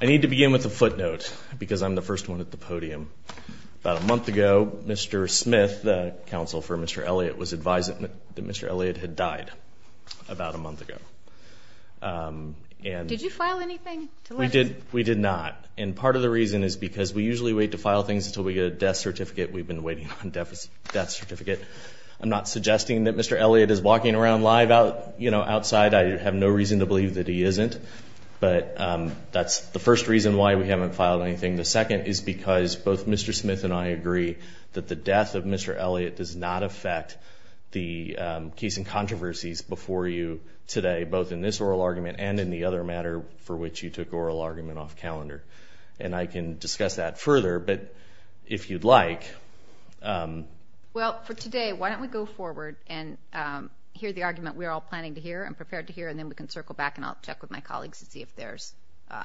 I need to begin with a footnote, because I'm the first one at the podium. About a month ago, Mr. Smith, the counsel for Mr. Elliott, was advising that Mr. Elliott about a month ago. Did you file anything? We did not, and part of the reason is because we usually wait to file things until we get a death certificate. We've been waiting on a death certificate. I'm not suggesting that Mr. Elliott is walking around live outside. I have no reason to believe that he isn't, but that's the first reason why we haven't filed anything. The second is because both Mr. Smith and I agree that the death of Mr. Elliott does not affect the case before you today, both in this oral argument and in the other matter for which you took oral argument off calendar. And I can discuss that further, but if you'd like. Well, for today, why don't we go forward and hear the argument we're all planning to hear and prepared to hear, and then we can circle back and I'll check with my colleagues to see if there's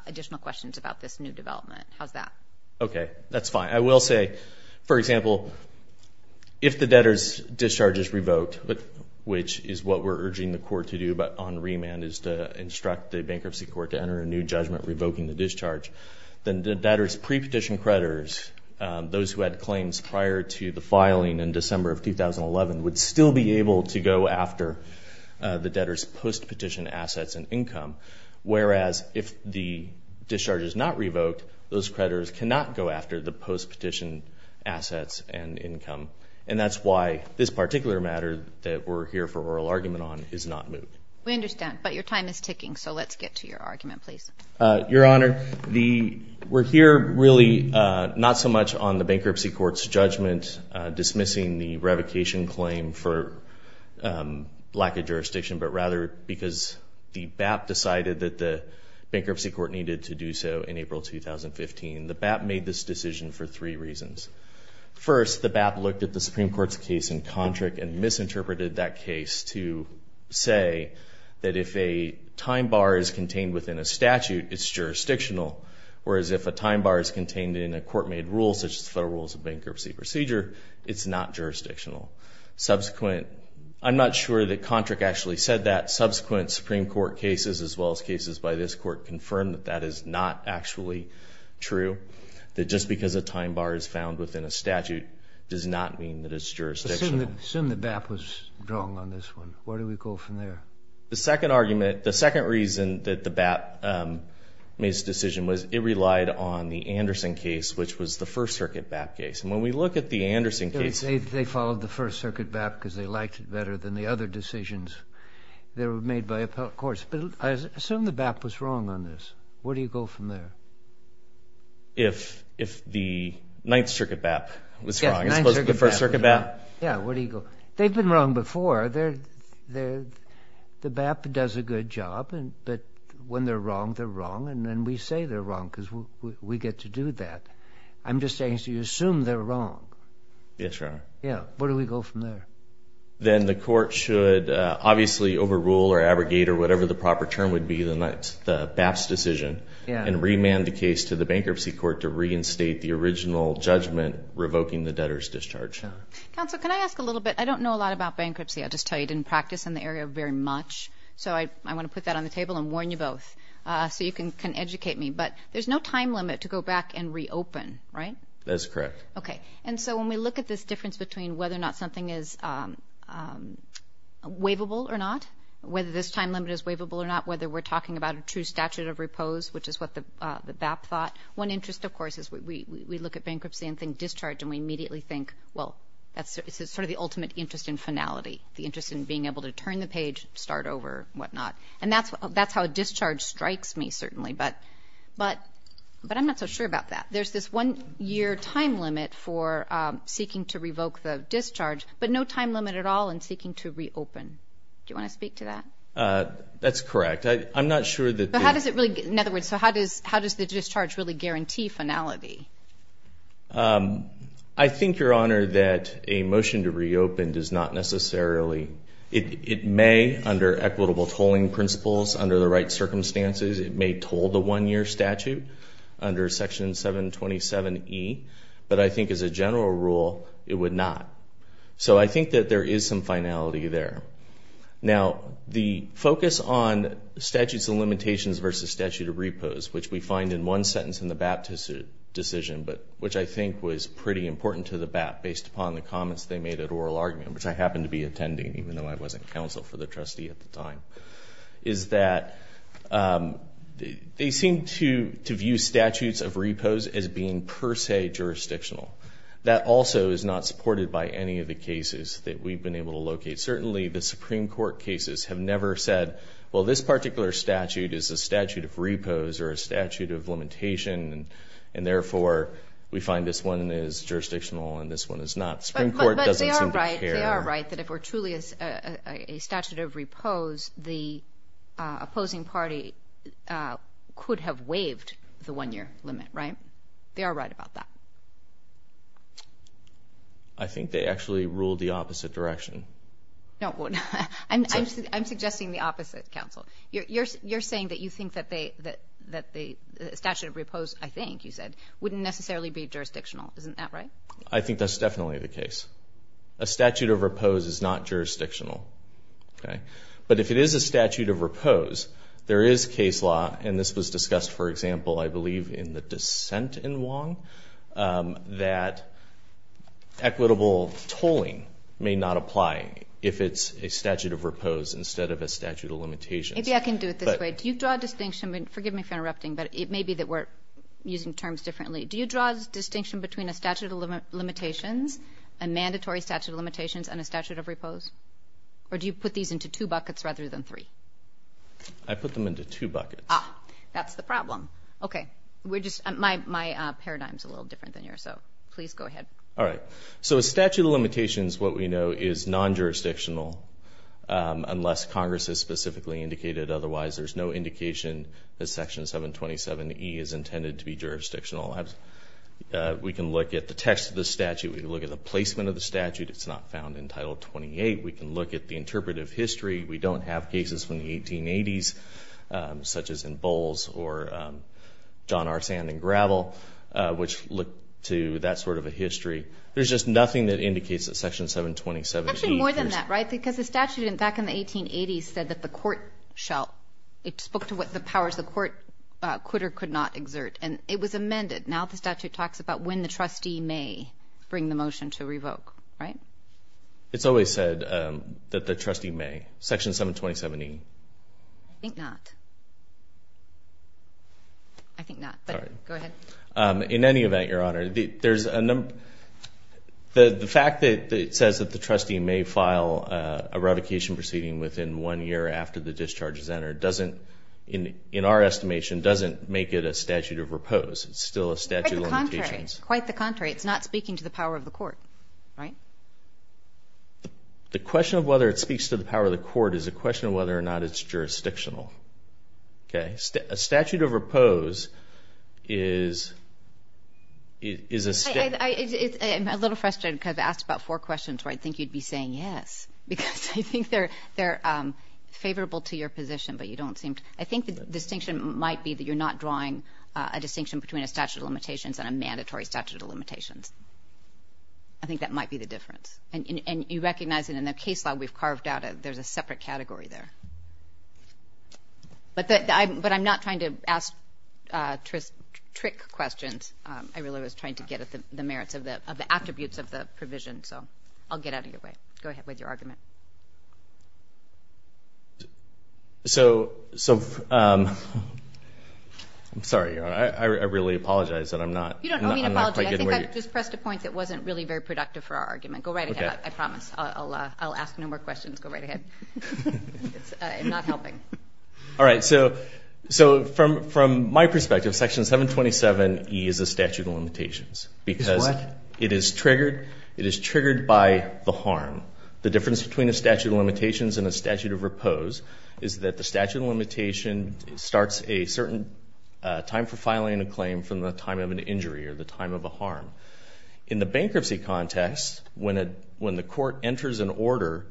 additional questions about this new development. How's that? Okay, that's fine. I will say, for example, if the debtor's discharge is revoked, which is what we're urging the court to do on remand is to instruct the bankruptcy court to enter a new judgment revoking the discharge, then the debtor's pre-petition creditors, those who had claims prior to the filing in December of 2011, would still be able to go after the debtor's post-petition assets and income, whereas if the discharge is not revoked, those creditors cannot go after the post-petition assets and income. And that's why this particular matter that we're here for oral argument on is not moved. We understand, but your time is ticking, so let's get to your argument, please. Your Honor, we're here really not so much on the bankruptcy court's judgment dismissing the revocation claim for lack of jurisdiction, but rather because the BAP decided that the bankruptcy court needed to do so in April 2015. The BAP made this decision for three reasons. First, the BAP looked at the Supreme Court's case in Contract and misinterpreted that case to say that if a time bar is contained within a statute, it's jurisdictional, whereas if a time bar is contained in a court-made rule such as the Federal Rules of Bankruptcy Procedure, it's not jurisdictional. Subsequent, I'm not sure that Contract actually said that. Subsequent Supreme Court cases as well as cases by this Court confirmed that that is not actually true, that just because a time bar is found within a statute does not mean that it's jurisdictional. Assume the BAP was wrong on this one. Where do we go from there? The second argument, the second reason that the BAP made this decision was it relied on the Anderson case, which was the First Circuit BAP case. And when we look at the Anderson case. They followed the First Circuit BAP because they liked it better than the other decisions that were made by appellate courts. But assume the BAP was wrong on this. Where do you go from there? If the Ninth Circuit BAP was wrong as opposed to the First Circuit BAP? Yeah, where do you go? They've been wrong before. The BAP does a good job, but when they're wrong, they're wrong, and we say they're wrong because we get to do that. I'm just saying, so you assume they're wrong. Yes, Your Honor. Yeah. Where do we go from there? Then the court should obviously overrule or abrogate or whatever the proper term would be the BAP's decision and remand the case to the bankruptcy court to reinstate the original judgment revoking the debtor's discharge. Counsel, can I ask a little bit? I don't know a lot about bankruptcy. I'll just tell you I didn't practice in the area very much. So I want to put that on the table and warn you both so you can educate me. But there's no time limit to go back and reopen, right? That's correct. Okay. And so when we look at this difference between whether or not something is waivable or not, whether this time limit is waivable or not, whether we're talking about a true statute of repose, which is what the BAP thought. One interest, of course, is we look at bankruptcy and think discharge, and we immediately think, well, this is sort of the ultimate interest in finality, the interest in being able to turn the page, start over, whatnot. And that's how a discharge strikes me, certainly. But I'm not so sure about that. There's this one-year time limit for seeking to revoke the discharge, but no time limit at all in seeking to reopen. Do you want to speak to that? That's correct. I'm not sure that there is. In other words, so how does the discharge really guarantee finality? I think, Your Honor, that a motion to reopen does not necessarily. It may, under equitable tolling principles, under the right circumstances, it may toll the one-year statute under Section 727E, but I think as a general rule it would not. So I think that there is some finality there. Now, the focus on statutes and limitations versus statute of repose, which we find in one sentence in the BAP decision, which I think was pretty important to the BAP based upon the comments they made at oral argument, which I happened to be attending, even though I wasn't counsel for the trustee at the time, is that they seem to view statutes of repose as being per se jurisdictional. That also is not supported by any of the cases that we've been able to locate. Certainly the Supreme Court cases have never said, well, this particular statute is a statute of repose or a statute of limitation, and therefore we find this one is jurisdictional and this one is not. The Supreme Court doesn't seem to care. But they are right. They are right that if it were truly a statute of repose, the opposing party could have waived the one-year limit, right? They are right about that. I think they actually ruled the opposite direction. I'm suggesting the opposite, counsel. You're saying that you think that the statute of repose, I think you said, wouldn't necessarily be jurisdictional. Isn't that right? I think that's definitely the case. A statute of repose is not jurisdictional. But if it is a statute of repose, there is case law, and this was discussed, for example, I believe, in the dissent in Wong, that equitable tolling may not apply if it's a statute of repose instead of a statute of limitations. Maybe I can do it this way. Do you draw a distinction? Forgive me for interrupting, but it may be that we're using terms differently. Do you draw a distinction between a statute of limitations, a mandatory statute of limitations, and a statute of repose? Or do you put these into two buckets rather than three? I put them into two buckets. Ah, that's the problem. Okay. My paradigm is a little different than yours, so please go ahead. All right. So a statute of limitations, what we know, is non-jurisdictional, unless Congress has specifically indicated otherwise. There's no indication that Section 727E is intended to be jurisdictional. We can look at the text of the statute. We can look at the placement of the statute. It's not found in Title 28. We can look at the interpretive history. We don't have cases from the 1880s, such as in Bowles or John R. Sand and Gravel, which look to that sort of a history. There's just nothing that indicates that Section 727E. Actually, more than that, right, because the statute back in the 1880s said that the court shall, it spoke to what the powers the court could or could not exert, and it was amended. Now the statute talks about when the trustee may bring the motion to revoke. Right? It's always said that the trustee may. Section 727E. I think not. I think not, but go ahead. In any event, Your Honor, there's a number. The fact that it says that the trustee may file a revocation proceeding within one year after the discharge is entered doesn't, in our estimation, doesn't make it a statute of repose. It's still a statute of limitations. Quite the contrary. It's not speaking to the power of the court. Right? The question of whether it speaks to the power of the court is a question of whether or not it's jurisdictional. Okay? A statute of repose is a state. I'm a little frustrated because I've asked about four questions where I think you'd be saying yes, because I think they're favorable to your position, but you don't seem to. I think the distinction might be that you're not drawing a distinction between a statute of limitations and a mandatory statute of limitations. I think that might be the difference. And you recognize that in the case law we've carved out, there's a separate category there. But I'm not trying to ask trick questions. I really was trying to get at the merits of the attributes of the provision, so I'll get out of your way. Go ahead with your argument. So, I'm sorry. I really apologize. You don't owe me an apology. I think I just pressed a point that wasn't really very productive for our argument. Go right ahead. I promise. I'll ask no more questions. Go right ahead. I'm not helping. All right. So from my perspective, Section 727E is a statute of limitations. It's what? Because it is triggered by the harm. The difference between a statute of limitations and a statute of repose is that the statute of limitations starts a certain time for filing a claim from the time of an injury or the time of a harm. In the bankruptcy context, when the court enters an order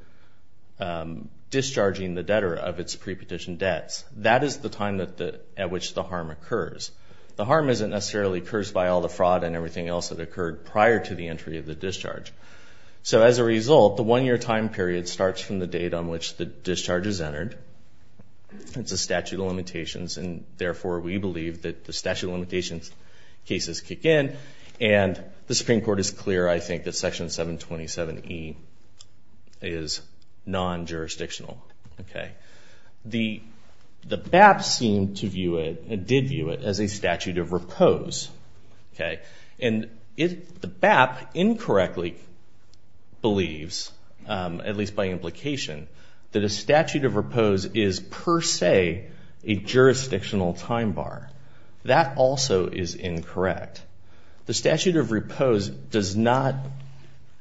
discharging the debtor of its prepetition debts, that is the time at which the harm occurs. The harm isn't necessarily cursed by all the fraud and everything else that occurred prior to the entry of the discharge. So as a result, the one-year time period starts from the date on which the discharge is entered. It's a statute of limitations, and therefore we believe that the statute of limitations cases kick in. And the Supreme Court is clear, I think, that Section 727E is non-jurisdictional. The BAP seemed to view it and did view it as a statute of repose. And the BAP incorrectly believes, at least by implication, that a statute of repose is per se a jurisdictional time bar. That also is incorrect. The statute of repose does not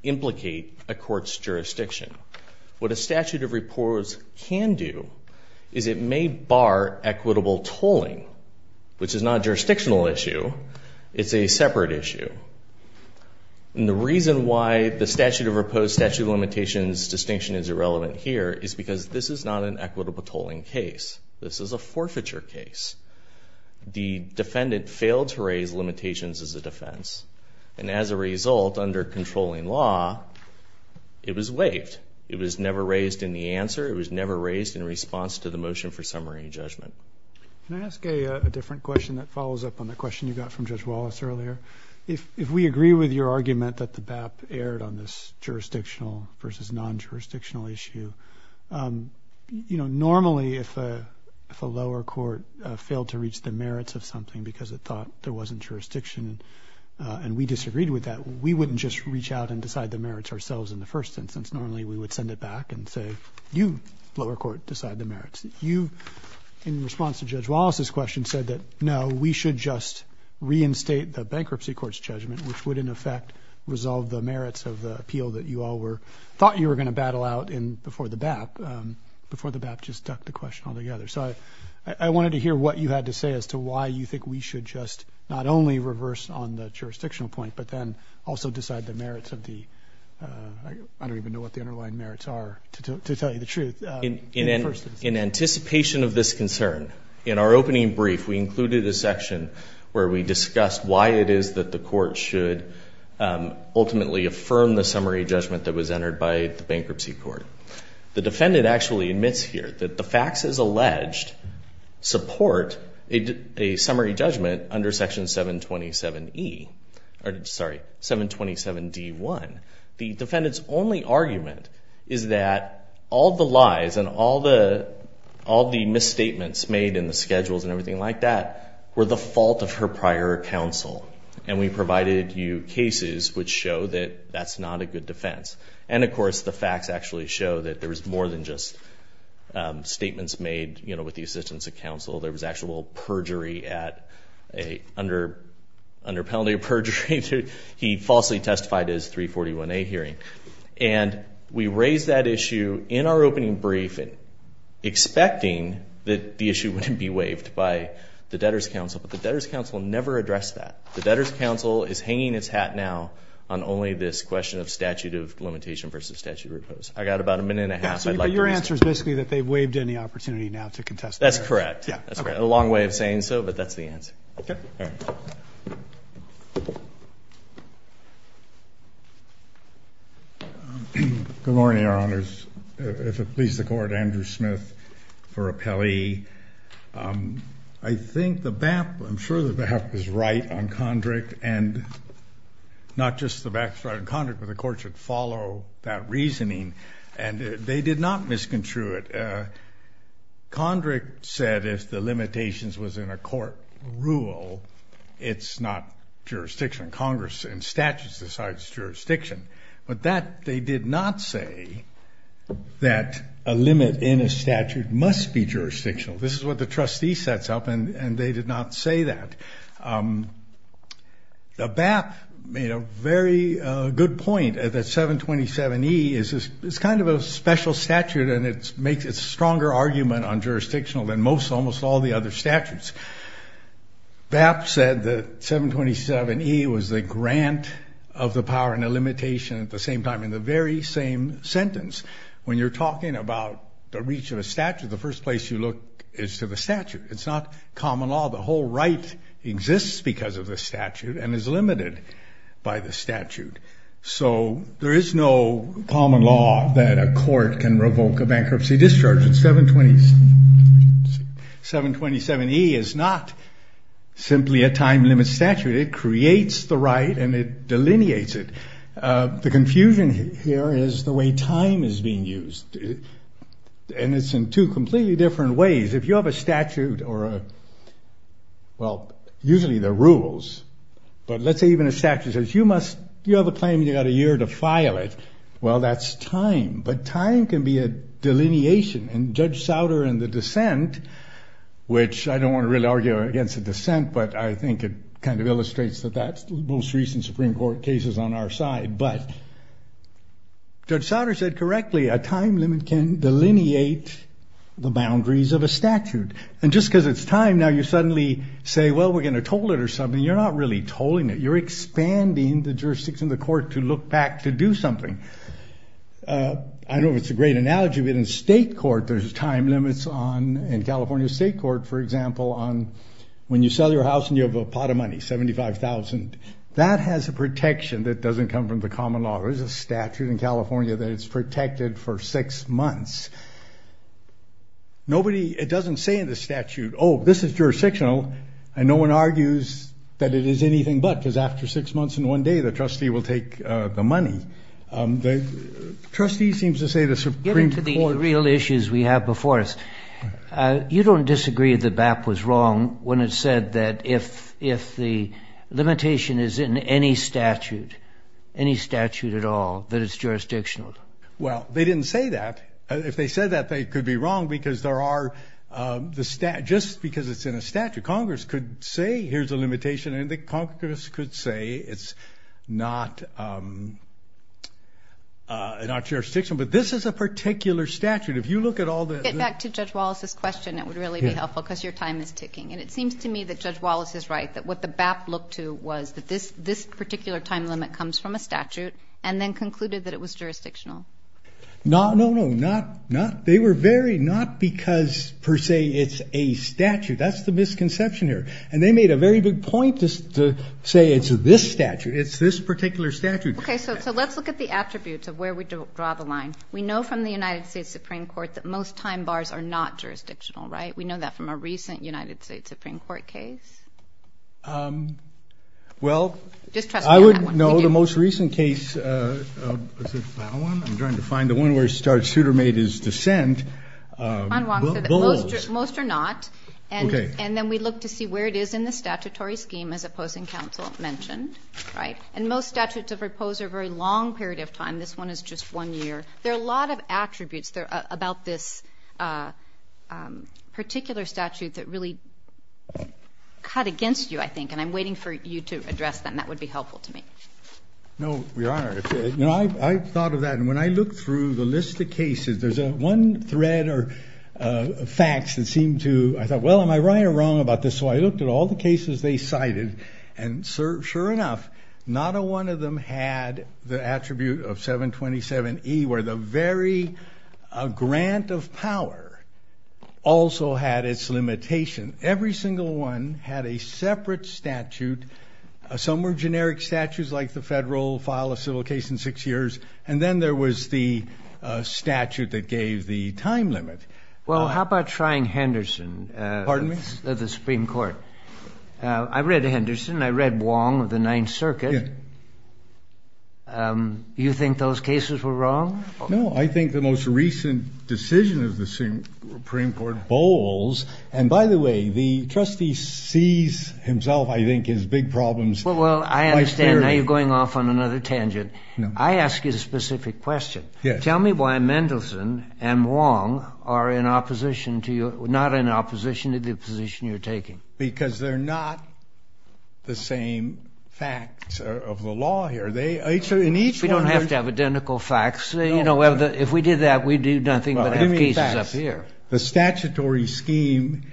implicate a court's jurisdiction. What a statute of repose can do is it may bar equitable tolling, which is not a jurisdictional issue. It's a separate issue. And the reason why the statute of repose statute of limitations distinction is irrelevant here is because this is not an equitable tolling case. This is a forfeiture case. The defendant failed to raise limitations as a defense, and as a result, under controlling law, it was waived. It was never raised in the answer. It was never raised in response to the motion for summary judgment. Can I ask a different question that follows up on the question you got from Judge Wallace earlier? If we agree with your argument that the BAP erred on this jurisdictional versus non-jurisdictional issue, you know, normally if a lower court failed to reach the merits of something because it thought there wasn't jurisdiction and we disagreed with that, we wouldn't just reach out and decide the merits ourselves in the first instance. Normally we would send it back and say, you, lower court, decide the merits. You, in response to Judge Wallace's question, said that, no, we should just reinstate the bankruptcy court's judgment, which would, in effect, resolve the merits of the appeal that you all thought you were going to battle out before the BAP. Before the BAP just stuck the question all together. So I wanted to hear what you had to say as to why you think we should just not only reverse on the jurisdictional point but then also decide the merits of the ‑‑ I don't even know what the underlying merits are, to tell you the truth. In anticipation of this concern, in our opening brief, we included a section where we discussed why it is that the court should ultimately affirm the summary judgment that was entered by the bankruptcy court. The defendant actually admits here that the facts as alleged support a summary judgment under Section 727E, sorry, 727D1, the defendant's only argument is that all the lies and all the misstatements made in the schedules and everything like that were the fault of her prior counsel. And we provided you cases which show that that's not a good defense. And, of course, the facts actually show that there was more than just statements made with the assistance of counsel. There was actual perjury at a ‑‑ under penalty of perjury. He falsely testified at his 341A hearing. And we raised that issue in our opening brief, expecting that the issue wouldn't be waived by the debtor's counsel. But the debtor's counsel never addressed that. The debtor's counsel is hanging its hat now on only this question of statute of limitation versus statute of repose. I've got about a minute and a half. But your answer is basically that they've waived any opportunity now to contest that. That's correct. That's correct. A long way of saying so, but that's the answer. Okay. All right. Good morning, Your Honors. If it pleases the Court, Andrew Smith for Appelli. I think the BAP, I'm sure the BAP was right on Condric, and not just the BAP was right on Condric, but the Court should follow that reasoning. And they did not misconstrue it. Condric said if the limitations was in a court rule, it's not jurisdiction. Congress and statutes decides jurisdiction. But that they did not say that a limit in a statute must be jurisdictional. This is what the trustee sets up, and they did not say that. The BAP made a very good point that 727E is kind of a special statute, and it makes a stronger argument on jurisdictional than most, almost all the other statutes. BAP said that 727E was the grant of the power and the limitation at the same time in the very same sentence. When you're talking about the reach of a statute, the first place you look is to the statute. It's not common law. The whole right exists because of the statute and is limited by the statute. So there is no common law that a court can revoke a bankruptcy discharge. 727E is not simply a time limit statute. It creates the right, and it delineates it. The confusion here is the way time is being used, and it's in two completely different ways. If you have a statute or a, well, usually they're rules, but let's say even a statute says you must, you have a claim, you've got a year to file it. Well, that's time, but time can be a delineation, and Judge Souder and the dissent, which I don't want to really argue against the dissent, but I think it kind of illustrates that that's the most recent Supreme Court cases on our side. But Judge Souder said correctly a time limit can delineate the boundaries of a statute. And just because it's time, now you suddenly say, well, we're going to toll it or something. You're not really tolling it. You're expanding the jurisdiction of the court to look back to do something. I don't know if it's a great analogy, but in state court there's time limits on, in California state court, for example, on when you sell your house and you have a pot of money, 75,000. That has a protection that doesn't come from the common law. There's a statute in California that it's protected for six months. Nobody, it doesn't say in the statute, oh, this is jurisdictional, and no one argues that it is anything but, because after six months and one day the trustee will take the money. The trustee seems to say the Supreme Court. Getting to the real issues we have before us, you don't disagree that BAP was wrong when it said that if the limitation is in any statute, any statute at all, that it's jurisdictional. Well, they didn't say that. If they said that, they could be wrong because there are, just because it's in a statute, Congress could say here's a limitation and the Congress could say it's not jurisdictional. But this is a particular statute. If you look at all the- Get back to Judge Wallace's question. It would really be helpful because your time is ticking. And it seems to me that Judge Wallace is right, that what the BAP looked to was that this particular time limit comes from a statute and then concluded that it was jurisdictional. No, no, no. Not, they were very, not because per se it's a statute. That's the misconception here. And they made a very big point to say it's this statute. It's this particular statute. Okay, so let's look at the attributes of where we draw the line. We know from the United States Supreme Court that most time bars are not jurisdictional, right? We know that from a recent United States Supreme Court case. Well- Just trust me on that one. I would know the most recent case, is it that one? I'm trying to find the one where it started, Souter made his dissent. Most are not. Okay. And then we look to see where it is in the statutory scheme as opposing counsel mentioned, right? And most statutes have proposed a very long period of time. This one is just one year. There are a lot of attributes about this particular statute that really cut against you, I think. And I'm waiting for you to address them. That would be helpful to me. No, Your Honor. You know, I thought of that. And when I looked through the list of cases, there's one thread or facts that seemed to, I thought, well, am I right or wrong about this? So I looked at all the cases they cited. And sure enough, not one of them had the attribute of 727E where the very grant of power also had its limitation. Every single one had a separate statute. Some were generic statutes like the federal file a civil case in six years. And then there was the statute that gave the time limit. Well, how about Shrine-Henderson? Pardon me? The Supreme Court. I read Henderson. I read Wong of the Ninth Circuit. You think those cases were wrong? No, I think the most recent decision of the Supreme Court bowls. And by the way, the trustee sees himself, I think, as big problems. Well, I understand. Now you're going off on another tangent. I ask you a specific question. Tell me why Mendelsohn and Wong are not in opposition to the position you're taking. Because they're not the same facts of the law here. We don't have to have identical facts. If we did that, we'd do nothing but have cases up here. The statutory scheme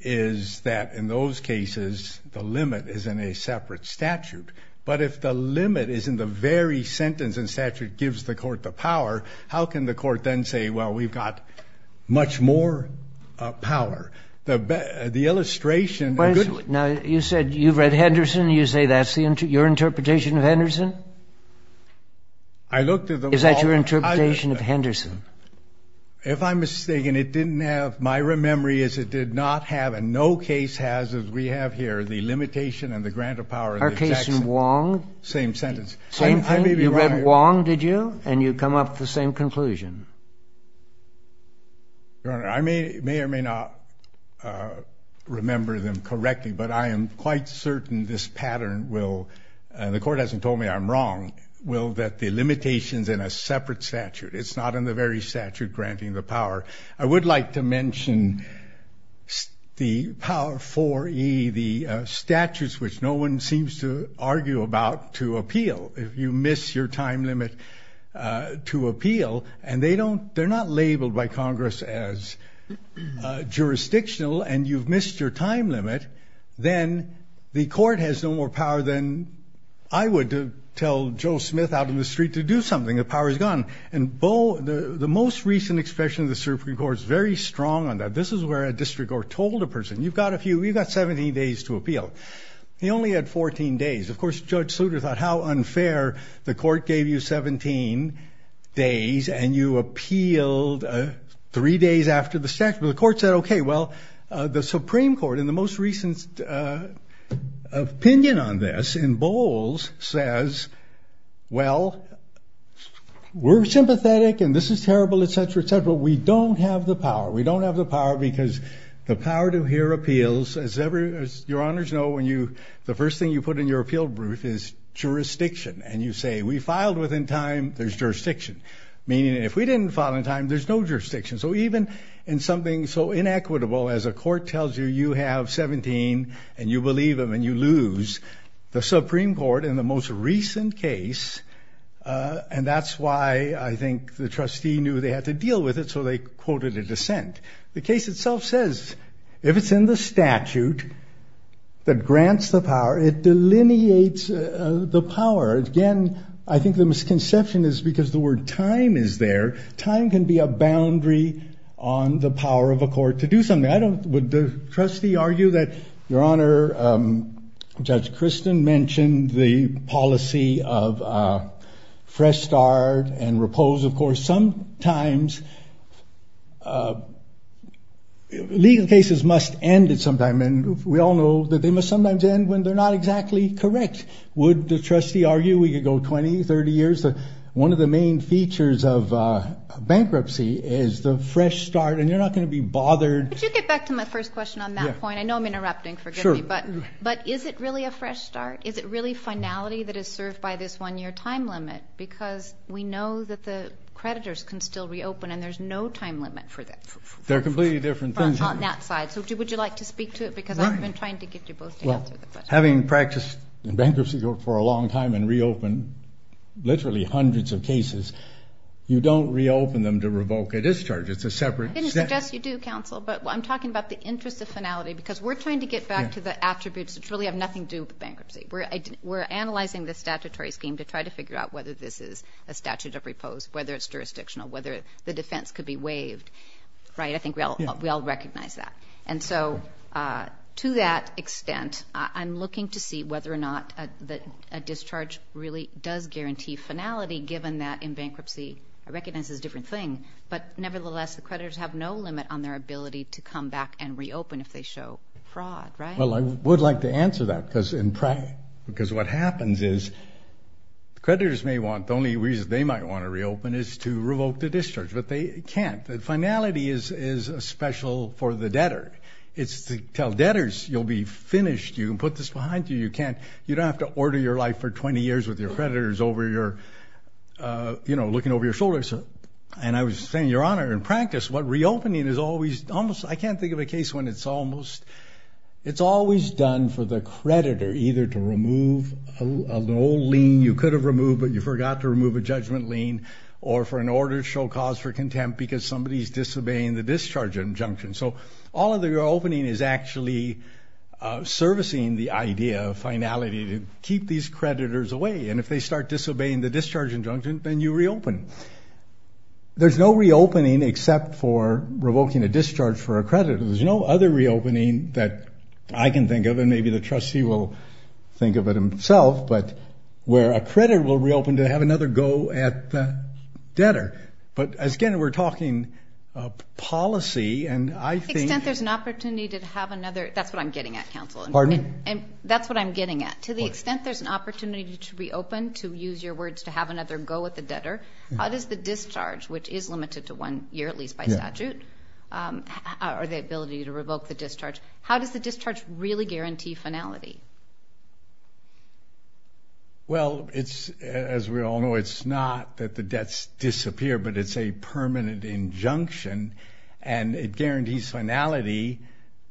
is that in those cases the limit is in a separate statute. But if the limit is in the very sentence and statute gives the court the power, how can the court then say, well, we've got much more power? The illustration of good... Now, you said you've read Henderson. You say that's your interpretation of Henderson? I looked at the... Is that your interpretation of Henderson? If I'm mistaken, it didn't have, my memory is it did not have, and no case has as we have here, the limitation and the grant of power... Our case in Wong? Same sentence. Same thing? You read Wong, did you? And you come up with the same conclusion? Your Honor, I may or may not remember them correctly, but I am quite certain this pattern will, and the court hasn't told me I'm wrong, will that the limitation is in a separate statute. It's not in the very statute granting the power. I would like to mention the Power IV-E, the statutes which no one seems to argue about to appeal. If you miss your time limit to appeal, and they're not labeled by Congress as jurisdictional, and you've missed your time limit, then the court has no more power than I would tell Joe Smith out in the street to do something. The power is gone. And the most recent expression of the Supreme Court is very strong on that. This is where a district court told a person, you've got a few, you've got 17 days to appeal. He only had 14 days. Of course, Judge Sluter thought how unfair the court gave you 17 days, and you appealed three days after the statute. Well, the Supreme Court in the most recent opinion on this in Bowles says, well, we're sympathetic, and this is terrible, et cetera, et cetera. We don't have the power. We don't have the power because the power to hear appeals, as your honors know, the first thing you put in your appeal brief is jurisdiction. And you say, we filed within time, there's jurisdiction. Meaning if we didn't file in time, there's no jurisdiction. So even in something so inequitable as a court tells you you have 17 and you believe them and you lose, the Supreme Court in the most recent case, and that's why I think the trustee knew they had to deal with it, so they quoted a dissent. The case itself says if it's in the statute that grants the power, it delineates the power. Again, I think the misconception is because the word time is there. Time can be a boundary on the power of a court to do something. Would the trustee argue that, your honor, Judge Kristen mentioned the policy of fresh start and repose. Of course, sometimes legal cases must end at some time, and we all know that they must sometimes end when they're not exactly correct. Would the trustee argue we could go 20, 30 years? One of the main features of bankruptcy is the fresh start, and you're not going to be bothered. Could you get back to my first question on that point? I know I'm interrupting, forgive me. Sure. But is it really a fresh start? Is it really finality that is served by this one-year time limit? Because we know that the creditors can still reopen, and there's no time limit for that. They're completely different things. On that side. So would you like to speak to it? Because I've been trying to get you both to answer the question. Having practiced in bankruptcy for a long time and reopened literally hundreds of cases, you don't reopen them to revoke a discharge. It's a separate step. I didn't suggest you do, counsel, but I'm talking about the interest of finality because we're trying to get back to the attributes that really have nothing to do with bankruptcy. We're analyzing the statutory scheme to try to figure out whether this is a statute of repose, whether it's jurisdictional, whether the defense could be waived, right? I think we all recognize that. And so to that extent, I'm looking to see whether or not a discharge really does guarantee finality, given that in bankruptcy it recognizes a different thing. But nevertheless, the creditors have no limit on their ability to come back and reopen if they show fraud, right? Well, I would like to answer that because what happens is the creditors may want, the only reason they might want to reopen is to revoke the discharge, but they can't. Finality is special for the debtor. It's to tell debtors you'll be finished, you can put this behind you, you can't. You don't have to order your life for 20 years with your creditors over your, you know, looking over your shoulders. And I was saying, Your Honor, in practice, what reopening is always, almost, I can't think of a case when it's almost, it's always done for the creditor either to remove a loan lien you could have removed but you forgot to remove a judgment lien, or for an order to show cause for contempt because somebody's disobeying the discharge injunction. So all of the reopening is actually servicing the idea of finality to keep these creditors away. And if they start disobeying the discharge injunction, then you reopen. There's no reopening except for revoking a discharge for a creditor. There's no other reopening that I can think of, and maybe the trustee will think of it himself, but where a creditor will reopen to have another go at the debtor. But, again, we're talking policy, and I think... To the extent there's an opportunity to have another, that's what I'm getting at, counsel. Pardon? That's what I'm getting at. To the extent there's an opportunity to reopen, to use your words, to have another go at the debtor, how does the discharge, which is limited to one year at least by statute, or the ability to revoke the discharge, how does the discharge really guarantee finality? Well, as we all know, it's not that the debts disappear, but it's a permanent injunction, and it guarantees finality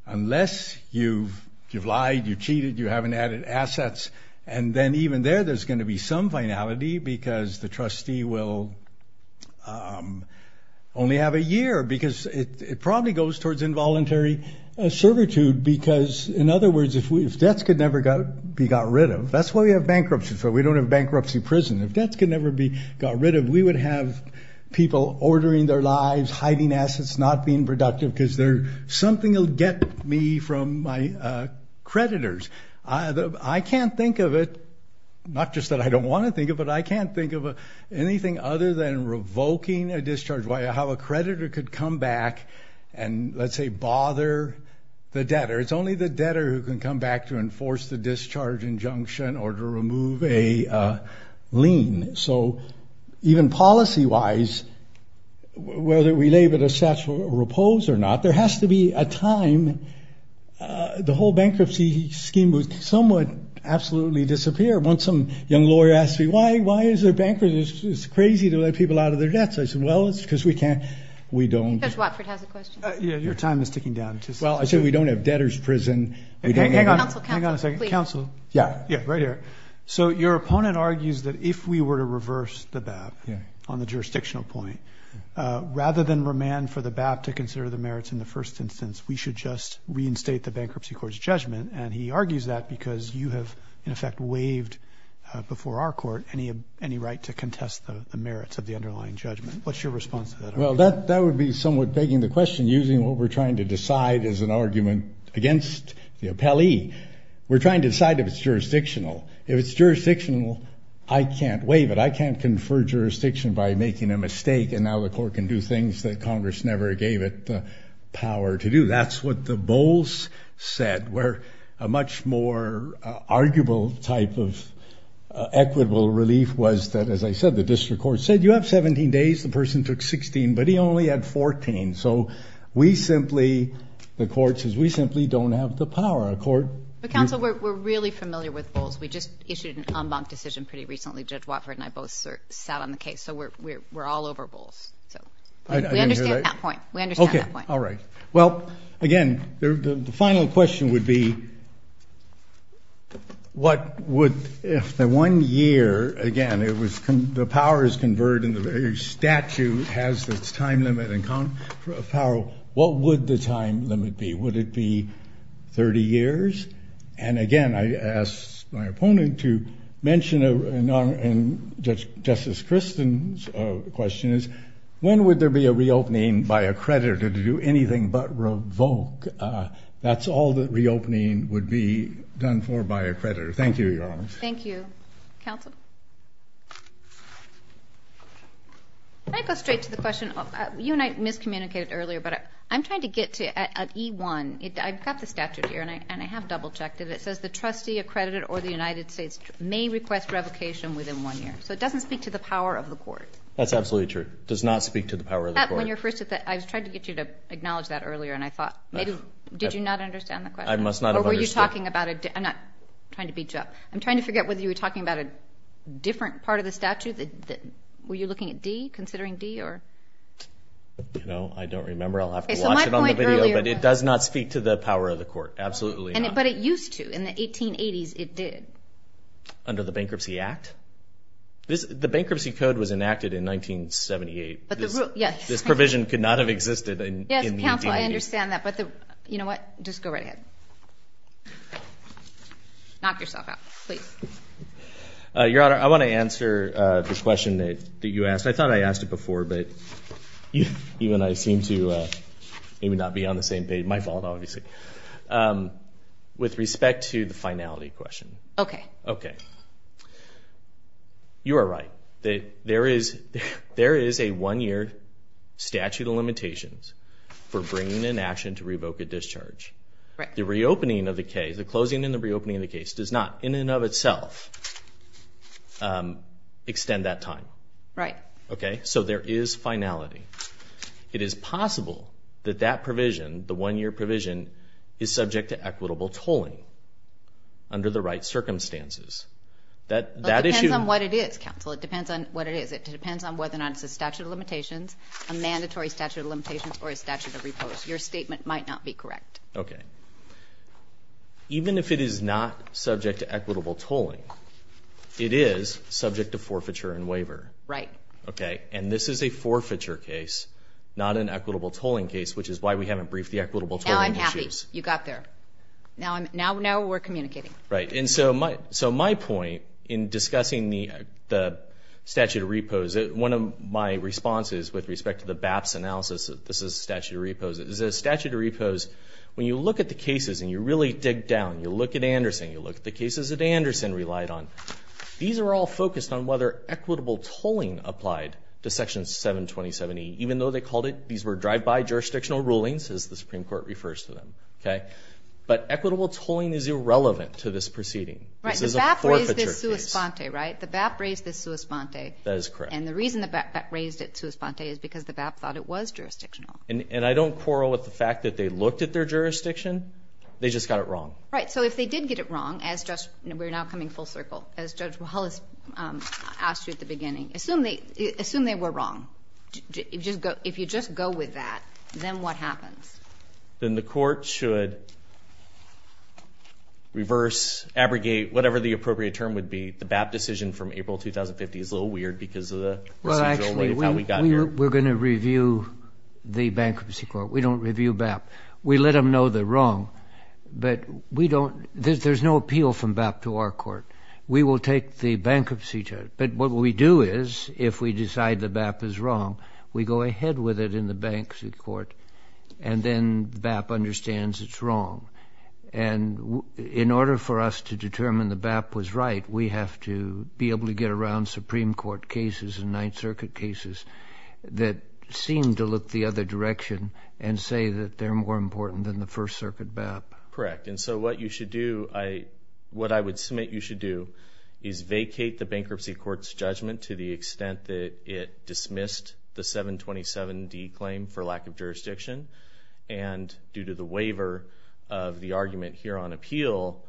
unless you've lied, you've cheated, you haven't added assets, and then even there there's going to be some finality because the trustee will only have a year because it probably goes towards involuntary servitude because, in other words, if debts could never be got rid of, that's why we have bankruptcies. We don't have bankruptcy prison. If debts could never be got rid of, we would have people ordering their lives, hiding assets, not being productive because something will get me from my creditors. I can't think of it, not just that I don't want to think of it, but I can't think of anything other than revoking a discharge, how a creditor could come back and, let's say, bother the debtor. It's only the debtor who can come back to enforce the discharge injunction or to remove a lien. So even policy-wise, whether we label it a statute of repose or not, there has to be a time. The whole bankruptcy scheme would somewhat absolutely disappear once some young lawyer asks me, why is there bankruptcy? It's crazy to let people out of their debts. I say, well, it's because we can't. We don't. Judge Watford has a question. Your time is ticking down. Well, I say we don't have debtor's prison. Hang on a second. Counsel, counsel, please. Counsel. Yeah. Yeah, right here. So your opponent argues that if we were to reverse the BAP on the jurisdictional point, rather than remand for the BAP to consider the merits in the first instance, we should just reinstate the Bankruptcy Court's judgment, and he argues that because you have in effect waived before our court any right to contest the merits of the underlying judgment. What's your response to that argument? Well, that would be somewhat begging the question, using what we're trying to decide as an argument against the appellee. We're trying to decide if it's jurisdictional. If it's jurisdictional, I can't waive it. I can't confer jurisdiction by making a mistake, and now the court can do things that Congress never gave it the power to do. That's what the Bowles said, where a much more arguable type of equitable relief was that, as I said, the district court said, you have 17 days. The person took 16, but he only had 14. So we simply, the court says, we simply don't have the power. Counsel, we're really familiar with Bowles. We just issued an en banc decision pretty recently. Judge Watford and I both sat on the case. So we're all over Bowles. We understand that point. We understand that point. All right. Well, again, the final question would be, what would, if the one year, again, the power is converted and the statute has its time limit and power, what would the time limit be? Would it be 30 years? And, again, I asked my opponent to mention, and Justice Christen's question is, when would there be a reopening by a creditor to do anything but revoke? That's all the reopening would be done for by a creditor. Thank you, Your Honor. Thank you. Counsel? Can I go straight to the question? You and I miscommunicated earlier, but I'm trying to get to E1. I've got the statute here, and I have double-checked it. It says the trustee, a creditor, or the United States may request revocation within one year. So it doesn't speak to the power of the court. That's absolutely true. It does not speak to the power of the court. When you were first at that, I was trying to get you to acknowledge that earlier, and I thought maybe did you not understand the question? I must not have understood. Or were you talking about it? I'm not trying to beat you up. I'm trying to figure out whether you were talking about a different part of the statute. Were you looking at D, considering D, or? You know, I don't remember. I'll have to watch it on the video, but it does not speak to the power of the court. Absolutely not. But it used to. In the 1880s, it did. Under the Bankruptcy Act? The Bankruptcy Code was enacted in 1978. Yes. This provision could not have existed in the 1880s. Yes, counsel, I understand that. But you know what? Just go right ahead. Knock yourself out. Please. Your Honor, I want to answer the question that you asked. I thought I asked it before, but even I seem to not be on the same page. My fault, obviously. With respect to the finality question. Okay. Okay. You are right. There is a one-year statute of limitations for bringing an action to revoke a discharge. The reopening of the case, the closing and the reopening of the case, does not in and of itself extend that time. Right. Okay, so there is finality. It is possible that that provision, the one-year provision, is subject to equitable tolling under the right circumstances. But it depends on what it is, counsel. It depends on what it is. It depends on whether or not it's a statute of limitations, a mandatory statute of limitations, or a statute of repose. Your statement might not be correct. Okay. Even if it is not subject to equitable tolling, it is subject to forfeiture and waiver. Right. Okay. And this is a forfeiture case, not an equitable tolling case, which is why we haven't briefed the equitable tolling issues. Now I'm happy. You got there. Now we're communicating. Right. And so my point in discussing the statute of repose, one of my responses with respect to the BAPS analysis, this is a statute of repose, is a statute of repose, when you look at the cases and you really dig down, you look at Anderson, you look at the cases that Anderson relied on, these are all focused on whether equitable tolling applied to Section 727E. Even though they called it, these were drive-by jurisdictional rulings, as the Supreme Court refers to them. Okay. But equitable tolling is irrelevant to this proceeding. This is a forfeiture case. Right. The BAP raised this sua sponte, right? The BAP raised this sua sponte. That is correct. And the reason the BAP raised it sua sponte is because the BAP thought it was jurisdictional. And I don't quarrel with the fact that they looked at their jurisdiction. They just got it wrong. Right. So if they did get it wrong, as we're now coming full circle, as Judge Wallace asked you at the beginning, assume they were wrong. If you just go with that, then what happens? Then the court should reverse, abrogate, whatever the appropriate term would be. The BAP decision from April 2050 is a little weird because of the procedural way of how we got here. Well, actually, we're going to review the bankruptcy court. We don't review BAP. We let them know they're wrong. But we don't – there's no appeal from BAP to our court. We will take the bankruptcy judge. But what we do is, if we decide the BAP is wrong, we go ahead with it in the bankruptcy court, and then BAP understands it's wrong. And in order for us to determine the BAP was right, we have to be able to get around Supreme Court cases and Ninth Circuit cases that seem to look the other direction and say that they're more important than the First Circuit BAP. Correct. And so what you should do – what I would submit you should do is vacate the bankruptcy court's judgment to the extent that it dismissed the 727D claim for lack of jurisdiction, and due to the waiver of the argument here on appeal,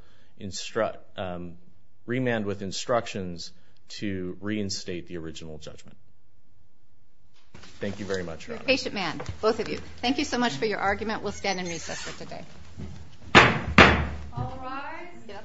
remand with instructions to reinstate the original judgment. Thank you very much. You're a patient man, both of you. Thank you so much for your argument. We'll stand and recess for today.